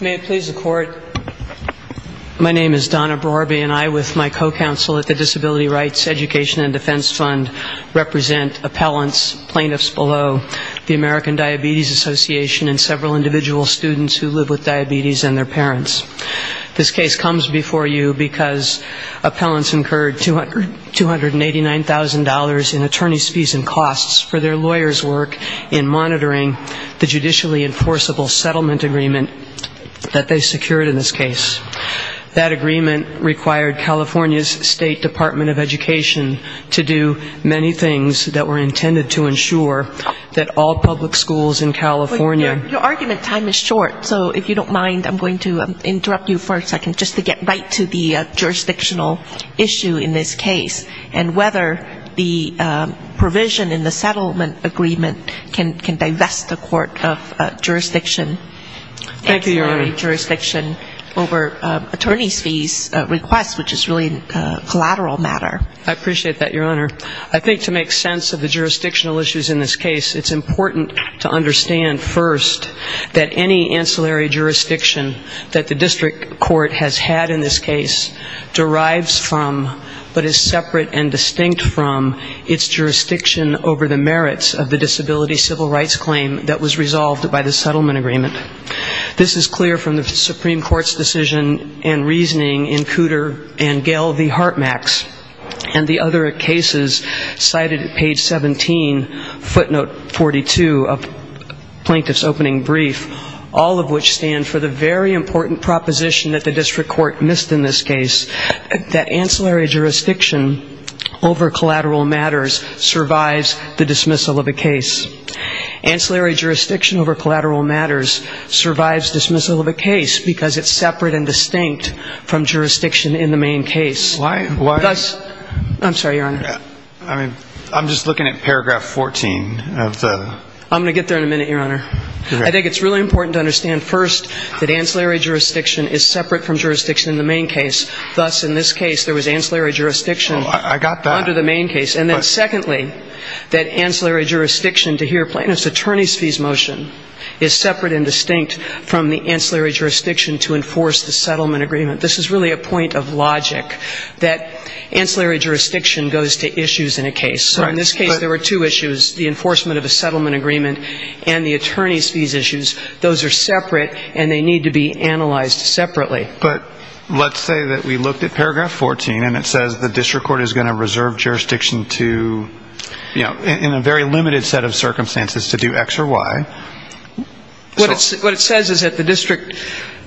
May it please the Court, my name is Donna Brorby and I with my co-counsel at the Disability Rights Education and Defense Fund represent appellants, plaintiffs below, the American Diabetes Association and several individual students who live with diabetes and their parents. This case comes before you because appellants incurred $289,000 in attorney's fees and costs for their lawyers' work in monitoring the judicially enforceable settlement agreement that they secured in this case. That agreement required California's State Department of Education to do many things that were intended to ensure that all public schools in California ---- Your argument time is short, so if you don't mind, I'm going to interrupt you for a second just to get right to the jurisdictional issue in this case and whether the provision in the settlement agreement can divest the court of jurisdiction. Thank you, Your Honor. Over attorney's fees request, which is really a collateral matter. I appreciate that, Your Honor. I think to make sense of the jurisdictional issues in this case, it's important to understand first that any ancillary jurisdiction that the district court has had in this case derives from but is separate and distinct from its jurisdiction over the merits of the disability civil rights claim that was resolved by the settlement agreement. This is clear from the Supreme Court's decision and reasoning in Cooter and Gale v. Hartmax and the other cases cited at page 17, footnote 42 of Plaintiff's Opening Brief, all of which stand for the very important proposition that the district court missed in this case, that ancillary jurisdiction over collateral matters survives the dismissal of a case. Ancillary jurisdiction over collateral matters survives dismissal of a case because it's separate and distinct from jurisdiction in the main case. Why? I'm sorry, Your Honor. I'm just looking at paragraph 14. I'm going to get there in a minute, Your Honor. I think it's really important to understand first that ancillary jurisdiction is separate from jurisdiction in the main case, thus in this case there was ancillary jurisdiction under the main case. I got that. And then secondly, that ancillary jurisdiction, to hear Plaintiff's attorneys' fees motion, is separate and distinct from the ancillary jurisdiction to enforce the settlement agreement. This is really a point of logic, that ancillary jurisdiction goes to issues in a case. So in this case there were two issues, the enforcement of a settlement agreement and the attorneys' fees issues. Those are separate and they need to be analyzed separately. But let's say that we looked at paragraph 14 and it says the district court is going to reserve jurisdiction to, you know, in a very limited set of circumstances to do X or Y. What it says is that the district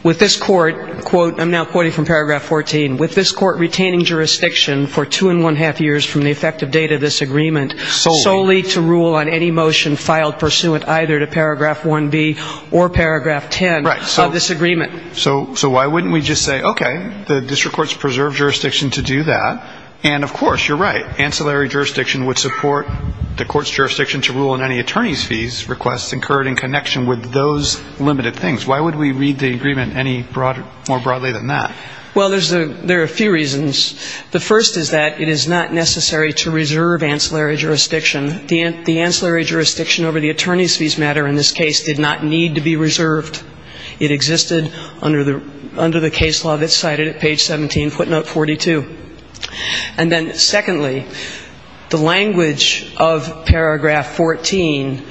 with this court, quote, I'm now quoting from paragraph 14, with this court retaining jurisdiction for two and one-half years from the effective date of this agreement solely to rule on any motion filed pursuant either to paragraph 1B or paragraph 10 of this agreement. So why wouldn't we just say, okay, the district court's preserved jurisdiction to do that. And, of course, you're right. Ancillary jurisdiction would support the court's jurisdiction to rule on any attorneys' fees requests incurred in connection with those limited things. Why would we read the agreement any more broadly than that? Well, there are a few reasons. The first is that it is not necessary to reserve ancillary jurisdiction. The ancillary jurisdiction over the attorneys' fees matter in this case did not need to be reserved. It existed under the case law that's cited at page 17, footnote 42. And then, secondly, the language of paragraph 14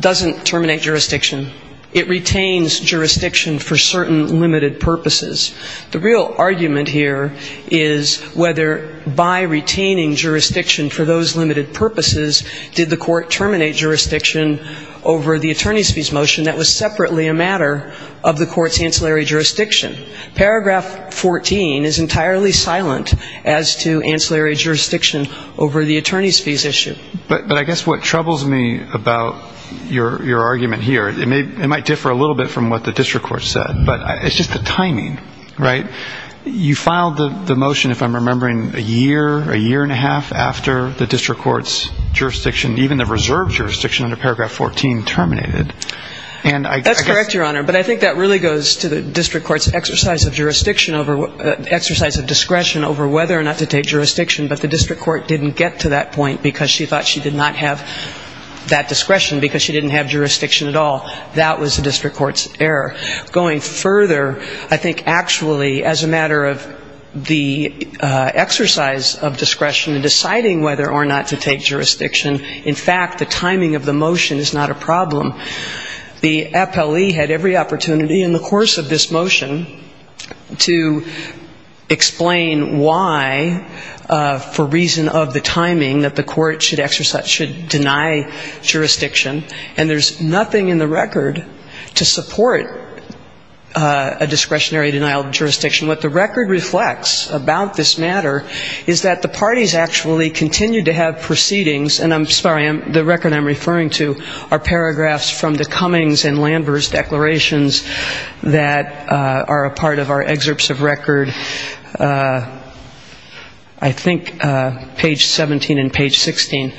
doesn't terminate jurisdiction. It retains jurisdiction for certain limited purposes. The real argument here is whether by retaining jurisdiction for those limited purposes, did the court terminate jurisdiction over the attorneys' fees motion that was separately a matter of the court's ancillary jurisdiction. Paragraph 14 is entirely silent as to ancillary jurisdiction over the attorneys' fees issue. But I guess what troubles me about your argument here, it might differ a little bit from what the district court said, but it's just the timing, right? You filed the motion, if I'm remembering, a year, a year and a half after the district court's jurisdiction, even the reserved jurisdiction under paragraph 14, terminated. That's correct, Your Honor, but I think that really goes to the district court's exercise of jurisdiction over ‑‑ exercise of discretion over whether or not to take jurisdiction, but the district court didn't get to that point because she thought she did not have that discretion because she didn't have jurisdiction at all. That was the district court's error. Going further, I think actually as a matter of the exercise of discretion in deciding whether or not to take jurisdiction, in fact, the timing of the motion is not a problem. The FLE had every opportunity in the course of this motion to explain why, for reason of the timing, that the court should exercise ‑‑ should deny jurisdiction, and there's nothing in the record to support a discretionary denial of jurisdiction. What the record reflects about this matter is that the parties actually continue to have proceedings, and I'm sorry, the record I'm referring to are paragraphs from the Cummings and Landers declarations that are a part of our excerpts of record, I think page 17 and page 16.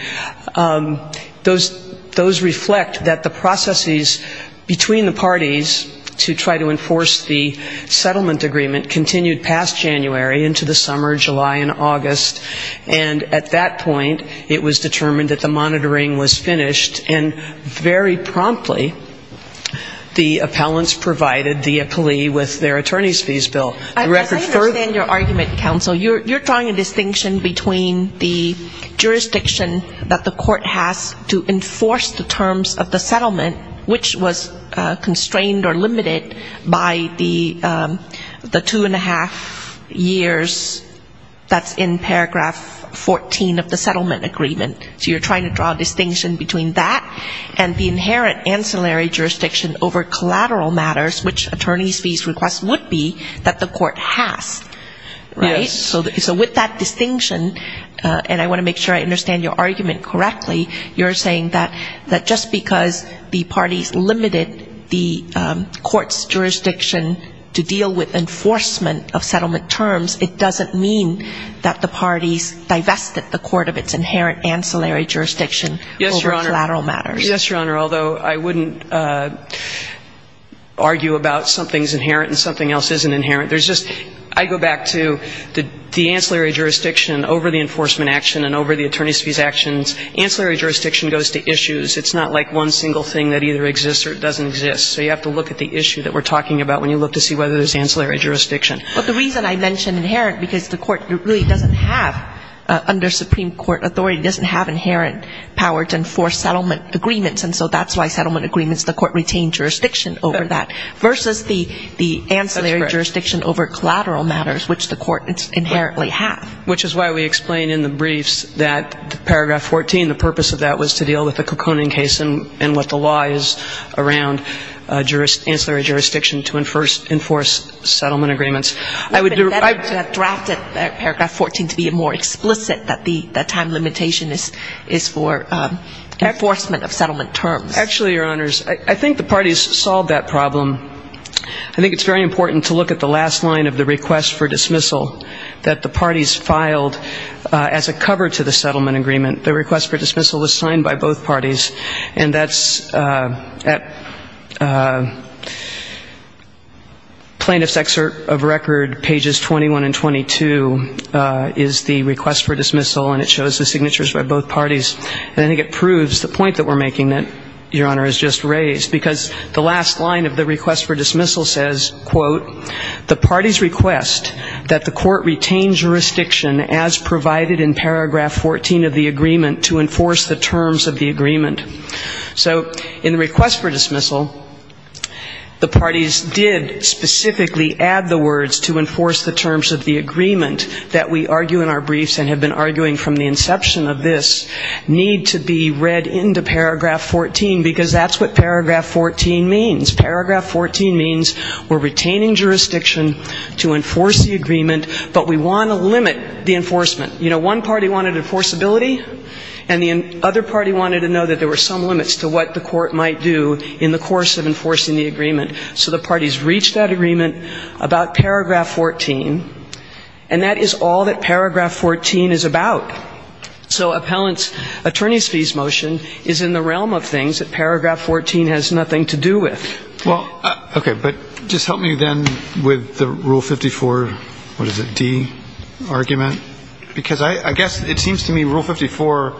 Those reflect that the processes between the parties to try to enforce the settlement agreement continued past January into the summer of July and August, and at that point it was determined that the monitoring was finished, and very promptly the appellants provided the plea with their attorney's fees bill. The record further ‑‑ that the court has to enforce the terms of the settlement, which was constrained or limited by the two and a half years that's in paragraph 14 of the settlement agreement. So you're trying to draw a distinction between that and the inherent ancillary jurisdiction over collateral matters, which attorney's fees request would be, that the court has. So with that distinction, and I want to make sure I understand your argument correctly, you're saying that just because the parties limited the court's jurisdiction to deal with enforcement of settlement terms, it doesn't mean that the parties divested the court of its inherent ancillary jurisdiction over collateral matters. Yes, Your Honor, although I wouldn't argue about something's inherent and something else isn't inherent. I go back to the ancillary jurisdiction over the enforcement action and over the attorney's fees actions. Ancillary jurisdiction goes to issues. It's not like one single thing that either exists or doesn't exist. So you have to look at the issue that we're talking about when you look to see whether there's ancillary jurisdiction. But the reason I mention inherent, because the court really doesn't have, under Supreme Court authority, doesn't have inherent power to enforce settlement agreements, and so that's why settlement agreements, the court retained jurisdiction over that, versus the ancillary jurisdiction over collateral matters, which the court inherently has. Which is why we explain in the briefs that Paragraph 14, the purpose of that was to deal with the Kekoning case and what the law is around, ancillary jurisdiction to enforce settlement agreements. I would do better to have drafted Paragraph 14 to be more explicit, that the time limitation is for enforcement of settlement terms. Actually, Your Honors, I think the parties solved that problem. I think it's very important to look at the last line of the request for dismissal, that the parties filed as a cover to the settlement agreement. The request for dismissal was signed by both parties, and that's at Plaintiff's Excerpt of Record, pages 21 and 22, is the request for dismissal, and it shows the signatures by both parties. And I think it proves the point that we're making that Your Honor has just raised, because the last line of the request for dismissal says, quote, the parties request that the court retain jurisdiction as provided in Paragraph 14 of the agreement to enforce the terms of the agreement. So in the request for dismissal, the parties did specifically add the words to enforce the terms of the agreement that we argue in our briefs and have been arguing from the inception of this need to be read into Paragraph 14, because that's what Paragraph 14 means. Paragraph 14 means we're retaining jurisdiction to enforce the agreement, but we want to limit the enforcement. You know, one party wanted enforceability, and the other party wanted to know that there were some limits to what the court might do in the course of enforcing the agreement. So the parties reached that agreement about Paragraph 14, and that is all that Paragraph 14 is about. So appellant's attorney's fees motion is in the realm of things that Paragraph 14 has nothing to do with. Well, okay, but just help me then with the Rule 54, what is it, D, argument, because I guess it seems to me Rule 54,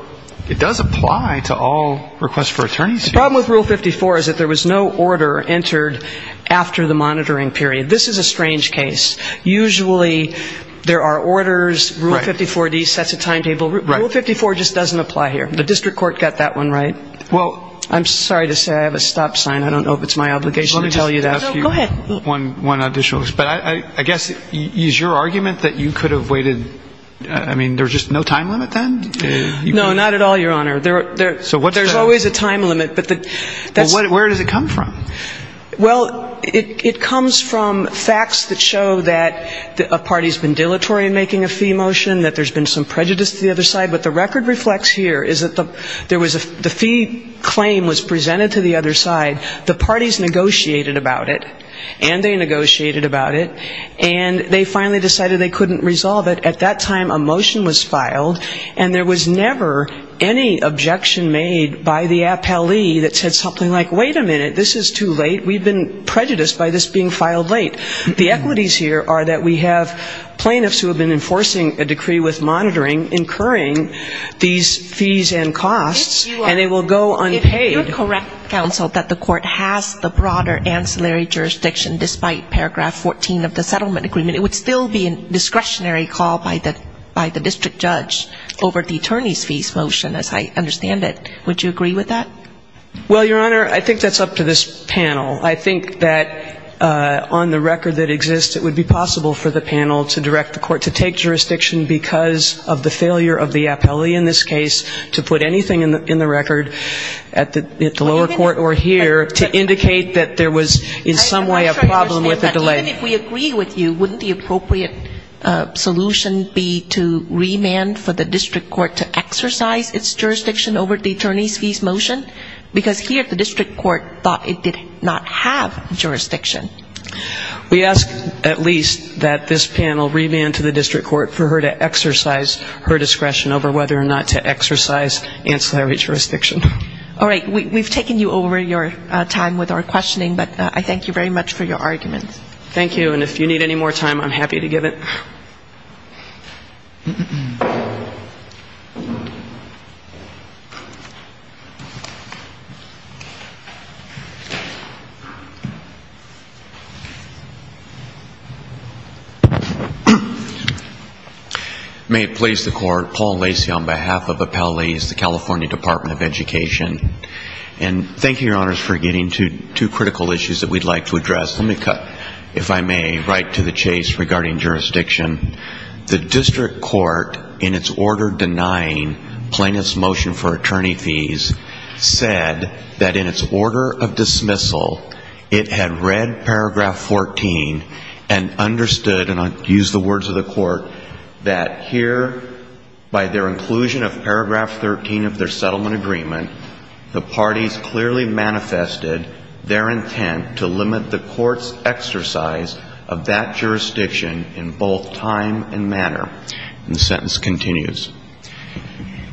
it does apply to all requests for attorney's fees. The problem with Rule 54 is that there was no order entered after the monitoring period. This is a strange case. Usually there are orders. Rule 54, D, sets a timetable. Rule 54 just doesn't apply here. The district court got that one right. I'm sorry to say I have a stop sign. I don't know if it's my obligation to tell you that. Go ahead. One additional. But I guess is your argument that you could have waited, I mean, there's just no time limit then? No, not at all, Your Honor. There's always a time limit. But where does it come from? Well, it comes from facts that show that a party's been dilatory in making a fee motion, that there's been some prejudice to the other side. But the record reflects here is that the fee claim was presented to the other side. The parties negotiated about it, and they negotiated about it, and they finally decided they couldn't resolve it. At that time, a motion was filed, and there was never any objection made by the appellee that said something like, wait a minute, this is too late, we've been prejudiced by this being filed late. The equities here are that we have plaintiffs who have been enforcing a decree with monitoring, incurring these fees and costs, and they will go unpaid. If you're correct, counsel, that the court has the broader ancillary jurisdiction, despite paragraph 14 of the settlement agreement, it would still be a discretionary call by the district judge over the attorney's fees motion, as I understand it. Would you agree with that? Well, Your Honor, I think that's up to this panel. I think that on the record that exists, it would be possible for the panel to direct the court to take jurisdiction because of the failure of the appellee in this case to put anything in the record at the lower court or here to indicate that there was in some way a problem with the delay. Even if we agree with you, wouldn't the appropriate solution be to remand for the district court to exercise its jurisdiction over the attorney's fees motion? Because here the district court thought it did not have jurisdiction. We ask at least that this panel remand to the district court for her to exercise her discretion over whether or not to exercise ancillary jurisdiction. All right. We've taken you over your time with our questioning, but I thank you very much for your arguments. Thank you. And if you need any more time, I'm happy to give it. May it please the Court, Paul Lacey on behalf of Appellees, the California Department of Education. And thank you, Your Honors, for getting to two critical issues that we'd like to address. Let me cut, if I may, right to the chase regarding jurisdiction. The district court in its order denying plaintiff's motion for attorney fees said that in its order of dismissal, it had read paragraph 14 and understood, and I'll use the words of the court, that here by their inclusion of paragraph 13 of their settlement agreement, the parties clearly manifested their intent to limit the court's exercise of that jurisdiction in both time and manner. And the sentence continues.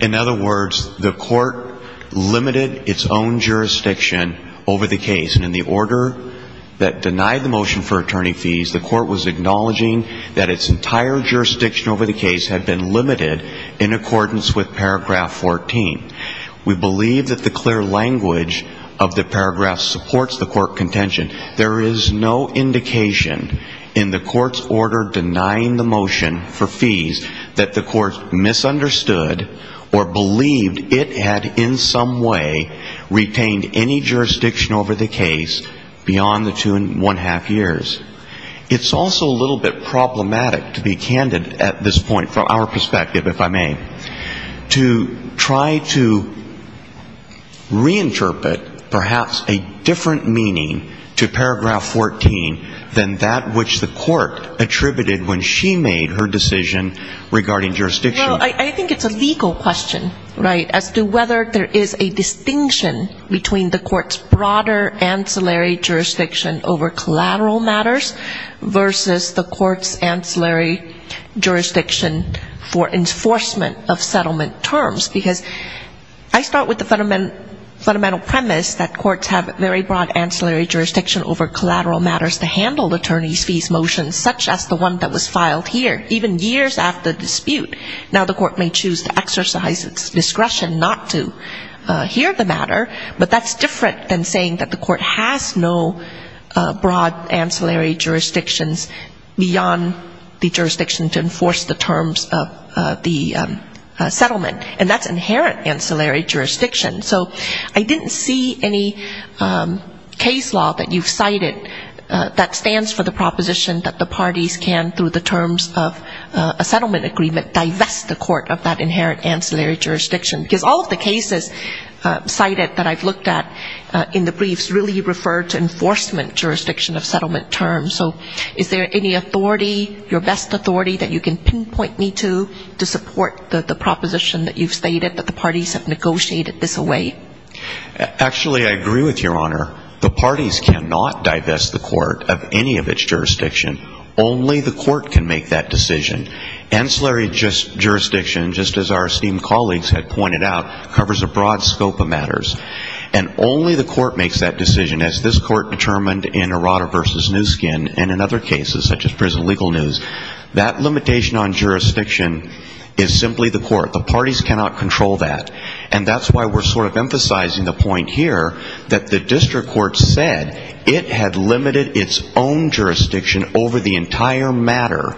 In other words, the court limited its own jurisdiction over the case. And in the order that denied the motion for attorney fees, the court was acknowledging that its entire jurisdiction over the case had been limited in accordance with paragraph 14. We believe that the clear language of the paragraph supports the court contention. There is no indication in the court's order denying the motion for fees that the court misunderstood or believed it had in some way retained any jurisdiction over the case beyond the two and one-half years. It's also a little bit problematic, to be candid at this point from our perspective, if I may, to try to reinterpret perhaps a different meaning to paragraph 14 than that which the court attributed when she made her decision regarding jurisdiction. Well, I think it's a legal question, right, as to whether there is a distinction between the court's broader ancillary jurisdiction over collateral matters versus the court's ancillary jurisdiction for enforcement of settlement terms. Because I start with the fundamental premise that courts have very broad ancillary jurisdiction over collateral matters to handle attorney's fees motions such as the one that was filed here, even years after the dispute. Now, the court may choose to exercise its discretion not to hear the matter, but that's different than saying that the court has no broad ancillary jurisdictions beyond the jurisdiction to enforce the terms of the settlement. And that's inherent ancillary jurisdiction. So I didn't see any case law that you've cited that stands for the proposition that the parties can, through the terms of a settlement agreement, divest the court of that inherent ancillary jurisdiction. Because all of the cases cited that I've looked at in the briefs really refer to enforcement jurisdiction of settlement terms. So is there any authority, your best authority, that you can pinpoint me to to support the proposition that you've stated that the parties have negotiated this away? Actually, I agree with Your Honor. The parties cannot divest the court of any of its jurisdiction. Only the court can make that decision. Ancillary jurisdiction, just as our esteemed colleagues have pointed out, covers a broad scope of matters. And only the court makes that decision, as this court determined in Arada v. Newskin and in other cases such as Prison Legal News. That limitation on jurisdiction is simply the court. The parties cannot control that. And that's why we're sort of emphasizing the point here that the district court said that it had limited its own jurisdiction over the entire matter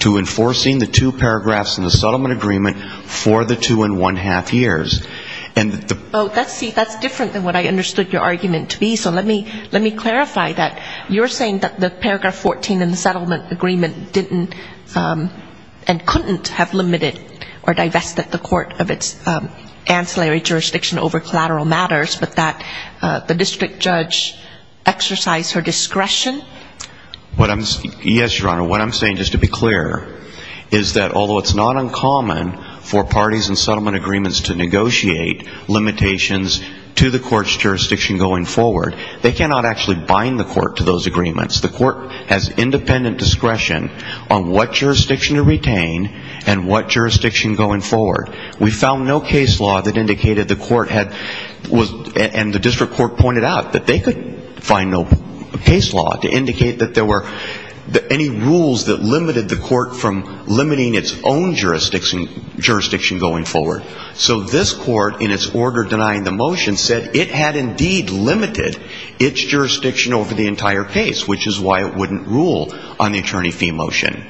to enforcing the two paragraphs in the settlement agreement for the two and one-half years. Oh, see, that's different than what I understood your argument to be. So let me clarify that you're saying that the paragraph 14 in the settlement agreement didn't and couldn't have limited or divested the court of its ancillary jurisdiction over collateral matters, but that the district judge exercised her discretion? Yes, Your Honor, what I'm saying, just to be clear, is that although it's not uncommon for parties in settlement agreements to negotiate limitations to the court's jurisdiction going forward, they cannot actually bind the court to those agreements. The court has independent discretion on what jurisdiction to retain and what jurisdiction going forward. We found no case law that indicated the court had, and the district court pointed out, that they could find no case law to indicate that there were any rules that limited the court from limiting its own jurisdiction going forward. So this court, in its order denying the motion, said it had indeed limited its jurisdiction over the entire case, which is why it wouldn't rule on the attorney fee motion.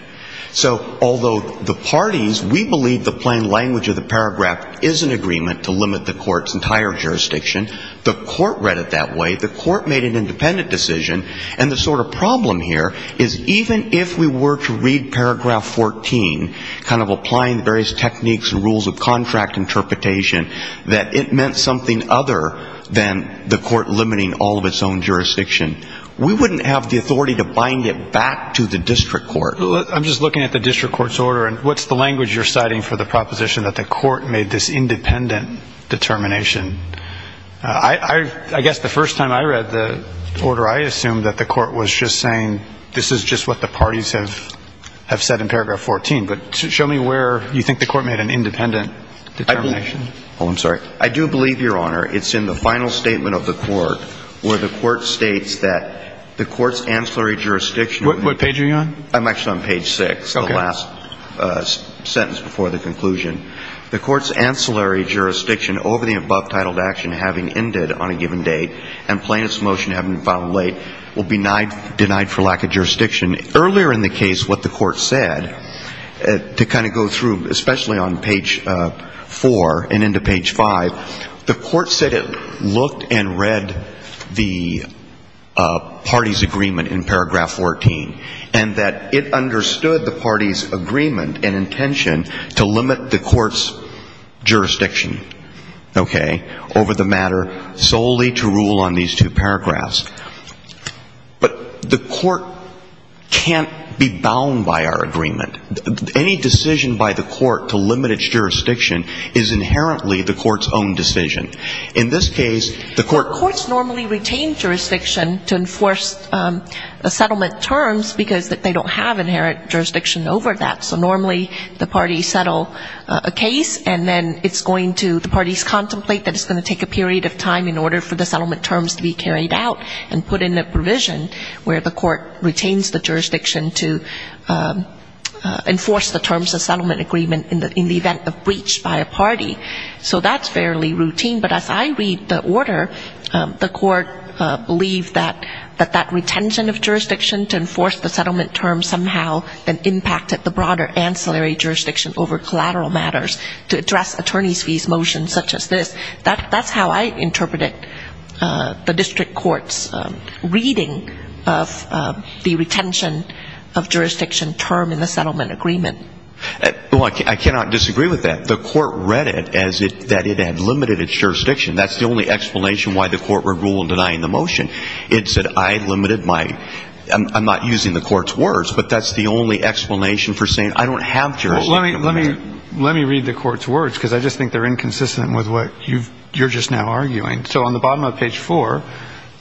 So although the parties, we believe the plain language of the paragraph is an agreement to limit the court's entire jurisdiction. The court read it that way. The court made an independent decision. And the sort of problem here is even if we were to read paragraph 14, kind of applying various techniques and rules of contract interpretation, that it meant something other than the court limiting all of its own jurisdiction, we wouldn't have the authority to bind it back to the district court. I'm just looking at the district court's order, and what's the language you're citing for the proposition that the court made this independent determination? I guess the first time I read the order, I assumed that the court was just saying this is just what the parties have said in paragraph 14. But show me where you think the court made an independent determination. Oh, I'm sorry. I do believe, Your Honor, it's in the final statement of the court where the court states that the court's ancillary jurisdiction. What page are you on? I'm actually on page 6, the last sentence before the conclusion. The court's ancillary jurisdiction over the above titled action having ended on a given date and plaintiff's motion having been filed late will be denied for lack of jurisdiction. Earlier in the case, what the court said, to kind of go through, especially on page 4 and into page 5, the court said it looked and read the party's agreement in paragraph 14 and that it understood the party's agreement and intention to limit the court's jurisdiction, okay, over the matter solely to rule on these two paragraphs. But the court can't be bound by our agreement. Any decision by the court to limit its jurisdiction is inherently the court's own decision. In this case, the court — because they don't have inherent jurisdiction over that. So normally the parties settle a case and then it's going to the parties contemplate that it's going to take a period of time in order for the settlement terms to be carried out and put in a provision where the court retains the jurisdiction to enforce the terms of settlement agreement in the event of breach by a party. So that's fairly routine. But as I read the order, the court believed that that retention of jurisdiction to enforce the settlement terms somehow then impacted the broader ancillary jurisdiction over collateral matters to address attorney's fees motions such as this. That's how I interpreted the district court's reading of the retention of jurisdiction term in the settlement agreement. Well, I cannot disagree with that. The court read it as that it had limited its jurisdiction. That's the only explanation why the court would rule in denying the motion. It said I limited my — I'm not using the court's words, but that's the only explanation for saying I don't have jurisdiction. Well, let me read the court's words because I just think they're inconsistent with what you're just now arguing. So on the bottom of page 4,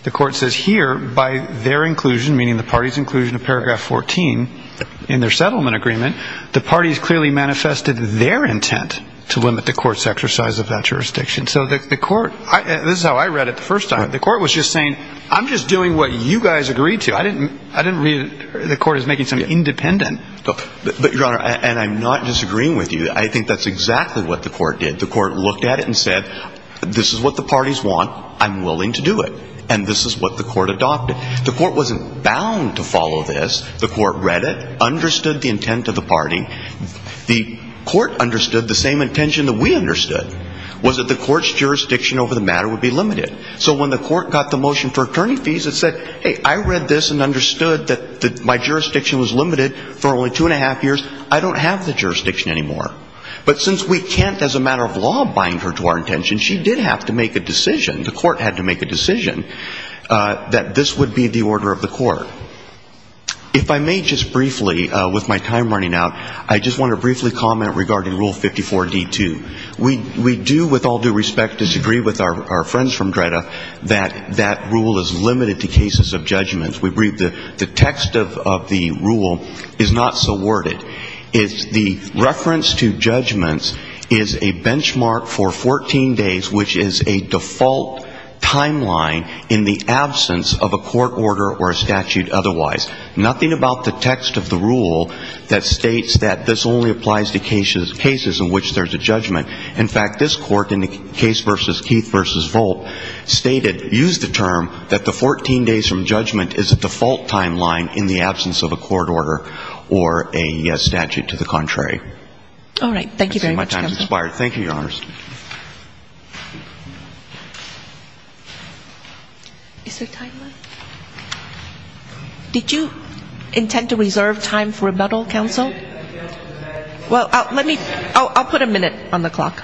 the court says here, by their inclusion, meaning the party's inclusion of paragraph 14 in their settlement agreement, the parties clearly manifested their intent to limit the court's exercise of that jurisdiction. So the court — this is how I read it the first time. The court was just saying I'm just doing what you guys agreed to. I didn't read it as the court is making something independent. But, Your Honor, and I'm not disagreeing with you. I think that's exactly what the court did. The court looked at it and said this is what the parties want. I'm willing to do it. And this is what the court adopted. The court wasn't bound to follow this. The court read it, understood the intent of the party. The court understood the same intention that we understood was that the court's jurisdiction over the matter would be limited. So when the court got the motion for attorney fees, it said, hey, I read this and understood that my jurisdiction was limited for only two and a half years. I don't have the jurisdiction anymore. But since we can't, as a matter of law, bind her to our intention, she did have to make a decision, the court had to make a decision, that this would be the order of the court. If I may just briefly, with my time running out, I just want to briefly comment regarding Rule 54D2. We do, with all due respect, disagree with our friends from DREDA that that rule is limited to cases of judgments. We believe the text of the rule is not so worded. The reference to judgments is a benchmark for 14 days, which is a default timeline in the absence of a court order or a statute otherwise. Nothing about the text of the rule that states that this only applies to cases in which there's a judgment. In fact, this court in the case versus Keith versus Volpe stated, used the term that the 14 days from judgment is a default timeline in the absence of a court order or a statute to the contrary. All right. Thank you very much, counsel. I think my time has expired. Thank you, Your Honor. Is there time left? Did you intend to reserve time for rebuttal, counsel? Well, let me ‑‑ I'll put a minute on the clock.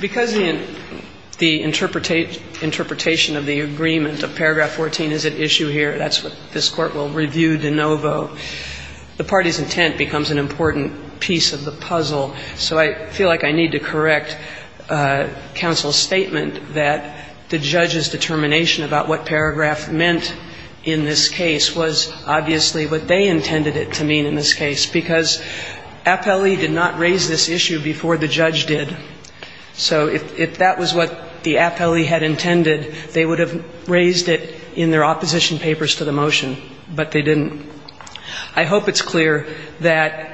Because the interpretation of the agreement of paragraph 14 is at issue here, that's what this court will review de novo, the party's intent becomes an important piece of the puzzle. So I feel like I need to correct counsel's statement that the judge's determination about what paragraph meant in this case was obviously what they intended it to mean in this case, because appellee did not raise this issue before the judge did. So if that was what the appellee had intended, they would have raised it in their opposition papers to the motion, but they didn't. I hope it's clear that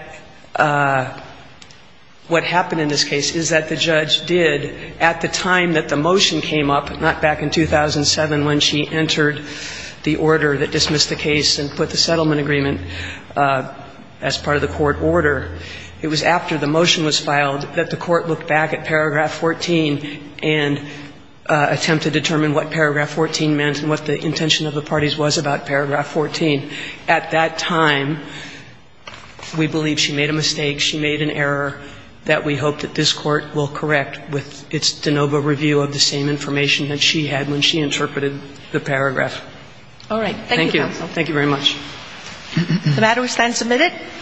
what happened in this case is that the judge did at the time that the motion came up, not back in 2007 when she entered the order that dismissed the case and put the settlement agreement as part of the court order. It was after the motion was filed that the court looked back at paragraph 14 and attempted to determine what paragraph 14 meant and what the intention of the parties was about paragraph 14. At that time, we believe she made a mistake. She made an error that we hope that this court will correct with its de novo review of the same information that she had when she interpreted the paragraph. Thank you. Thank you very much. The matter is then submitted.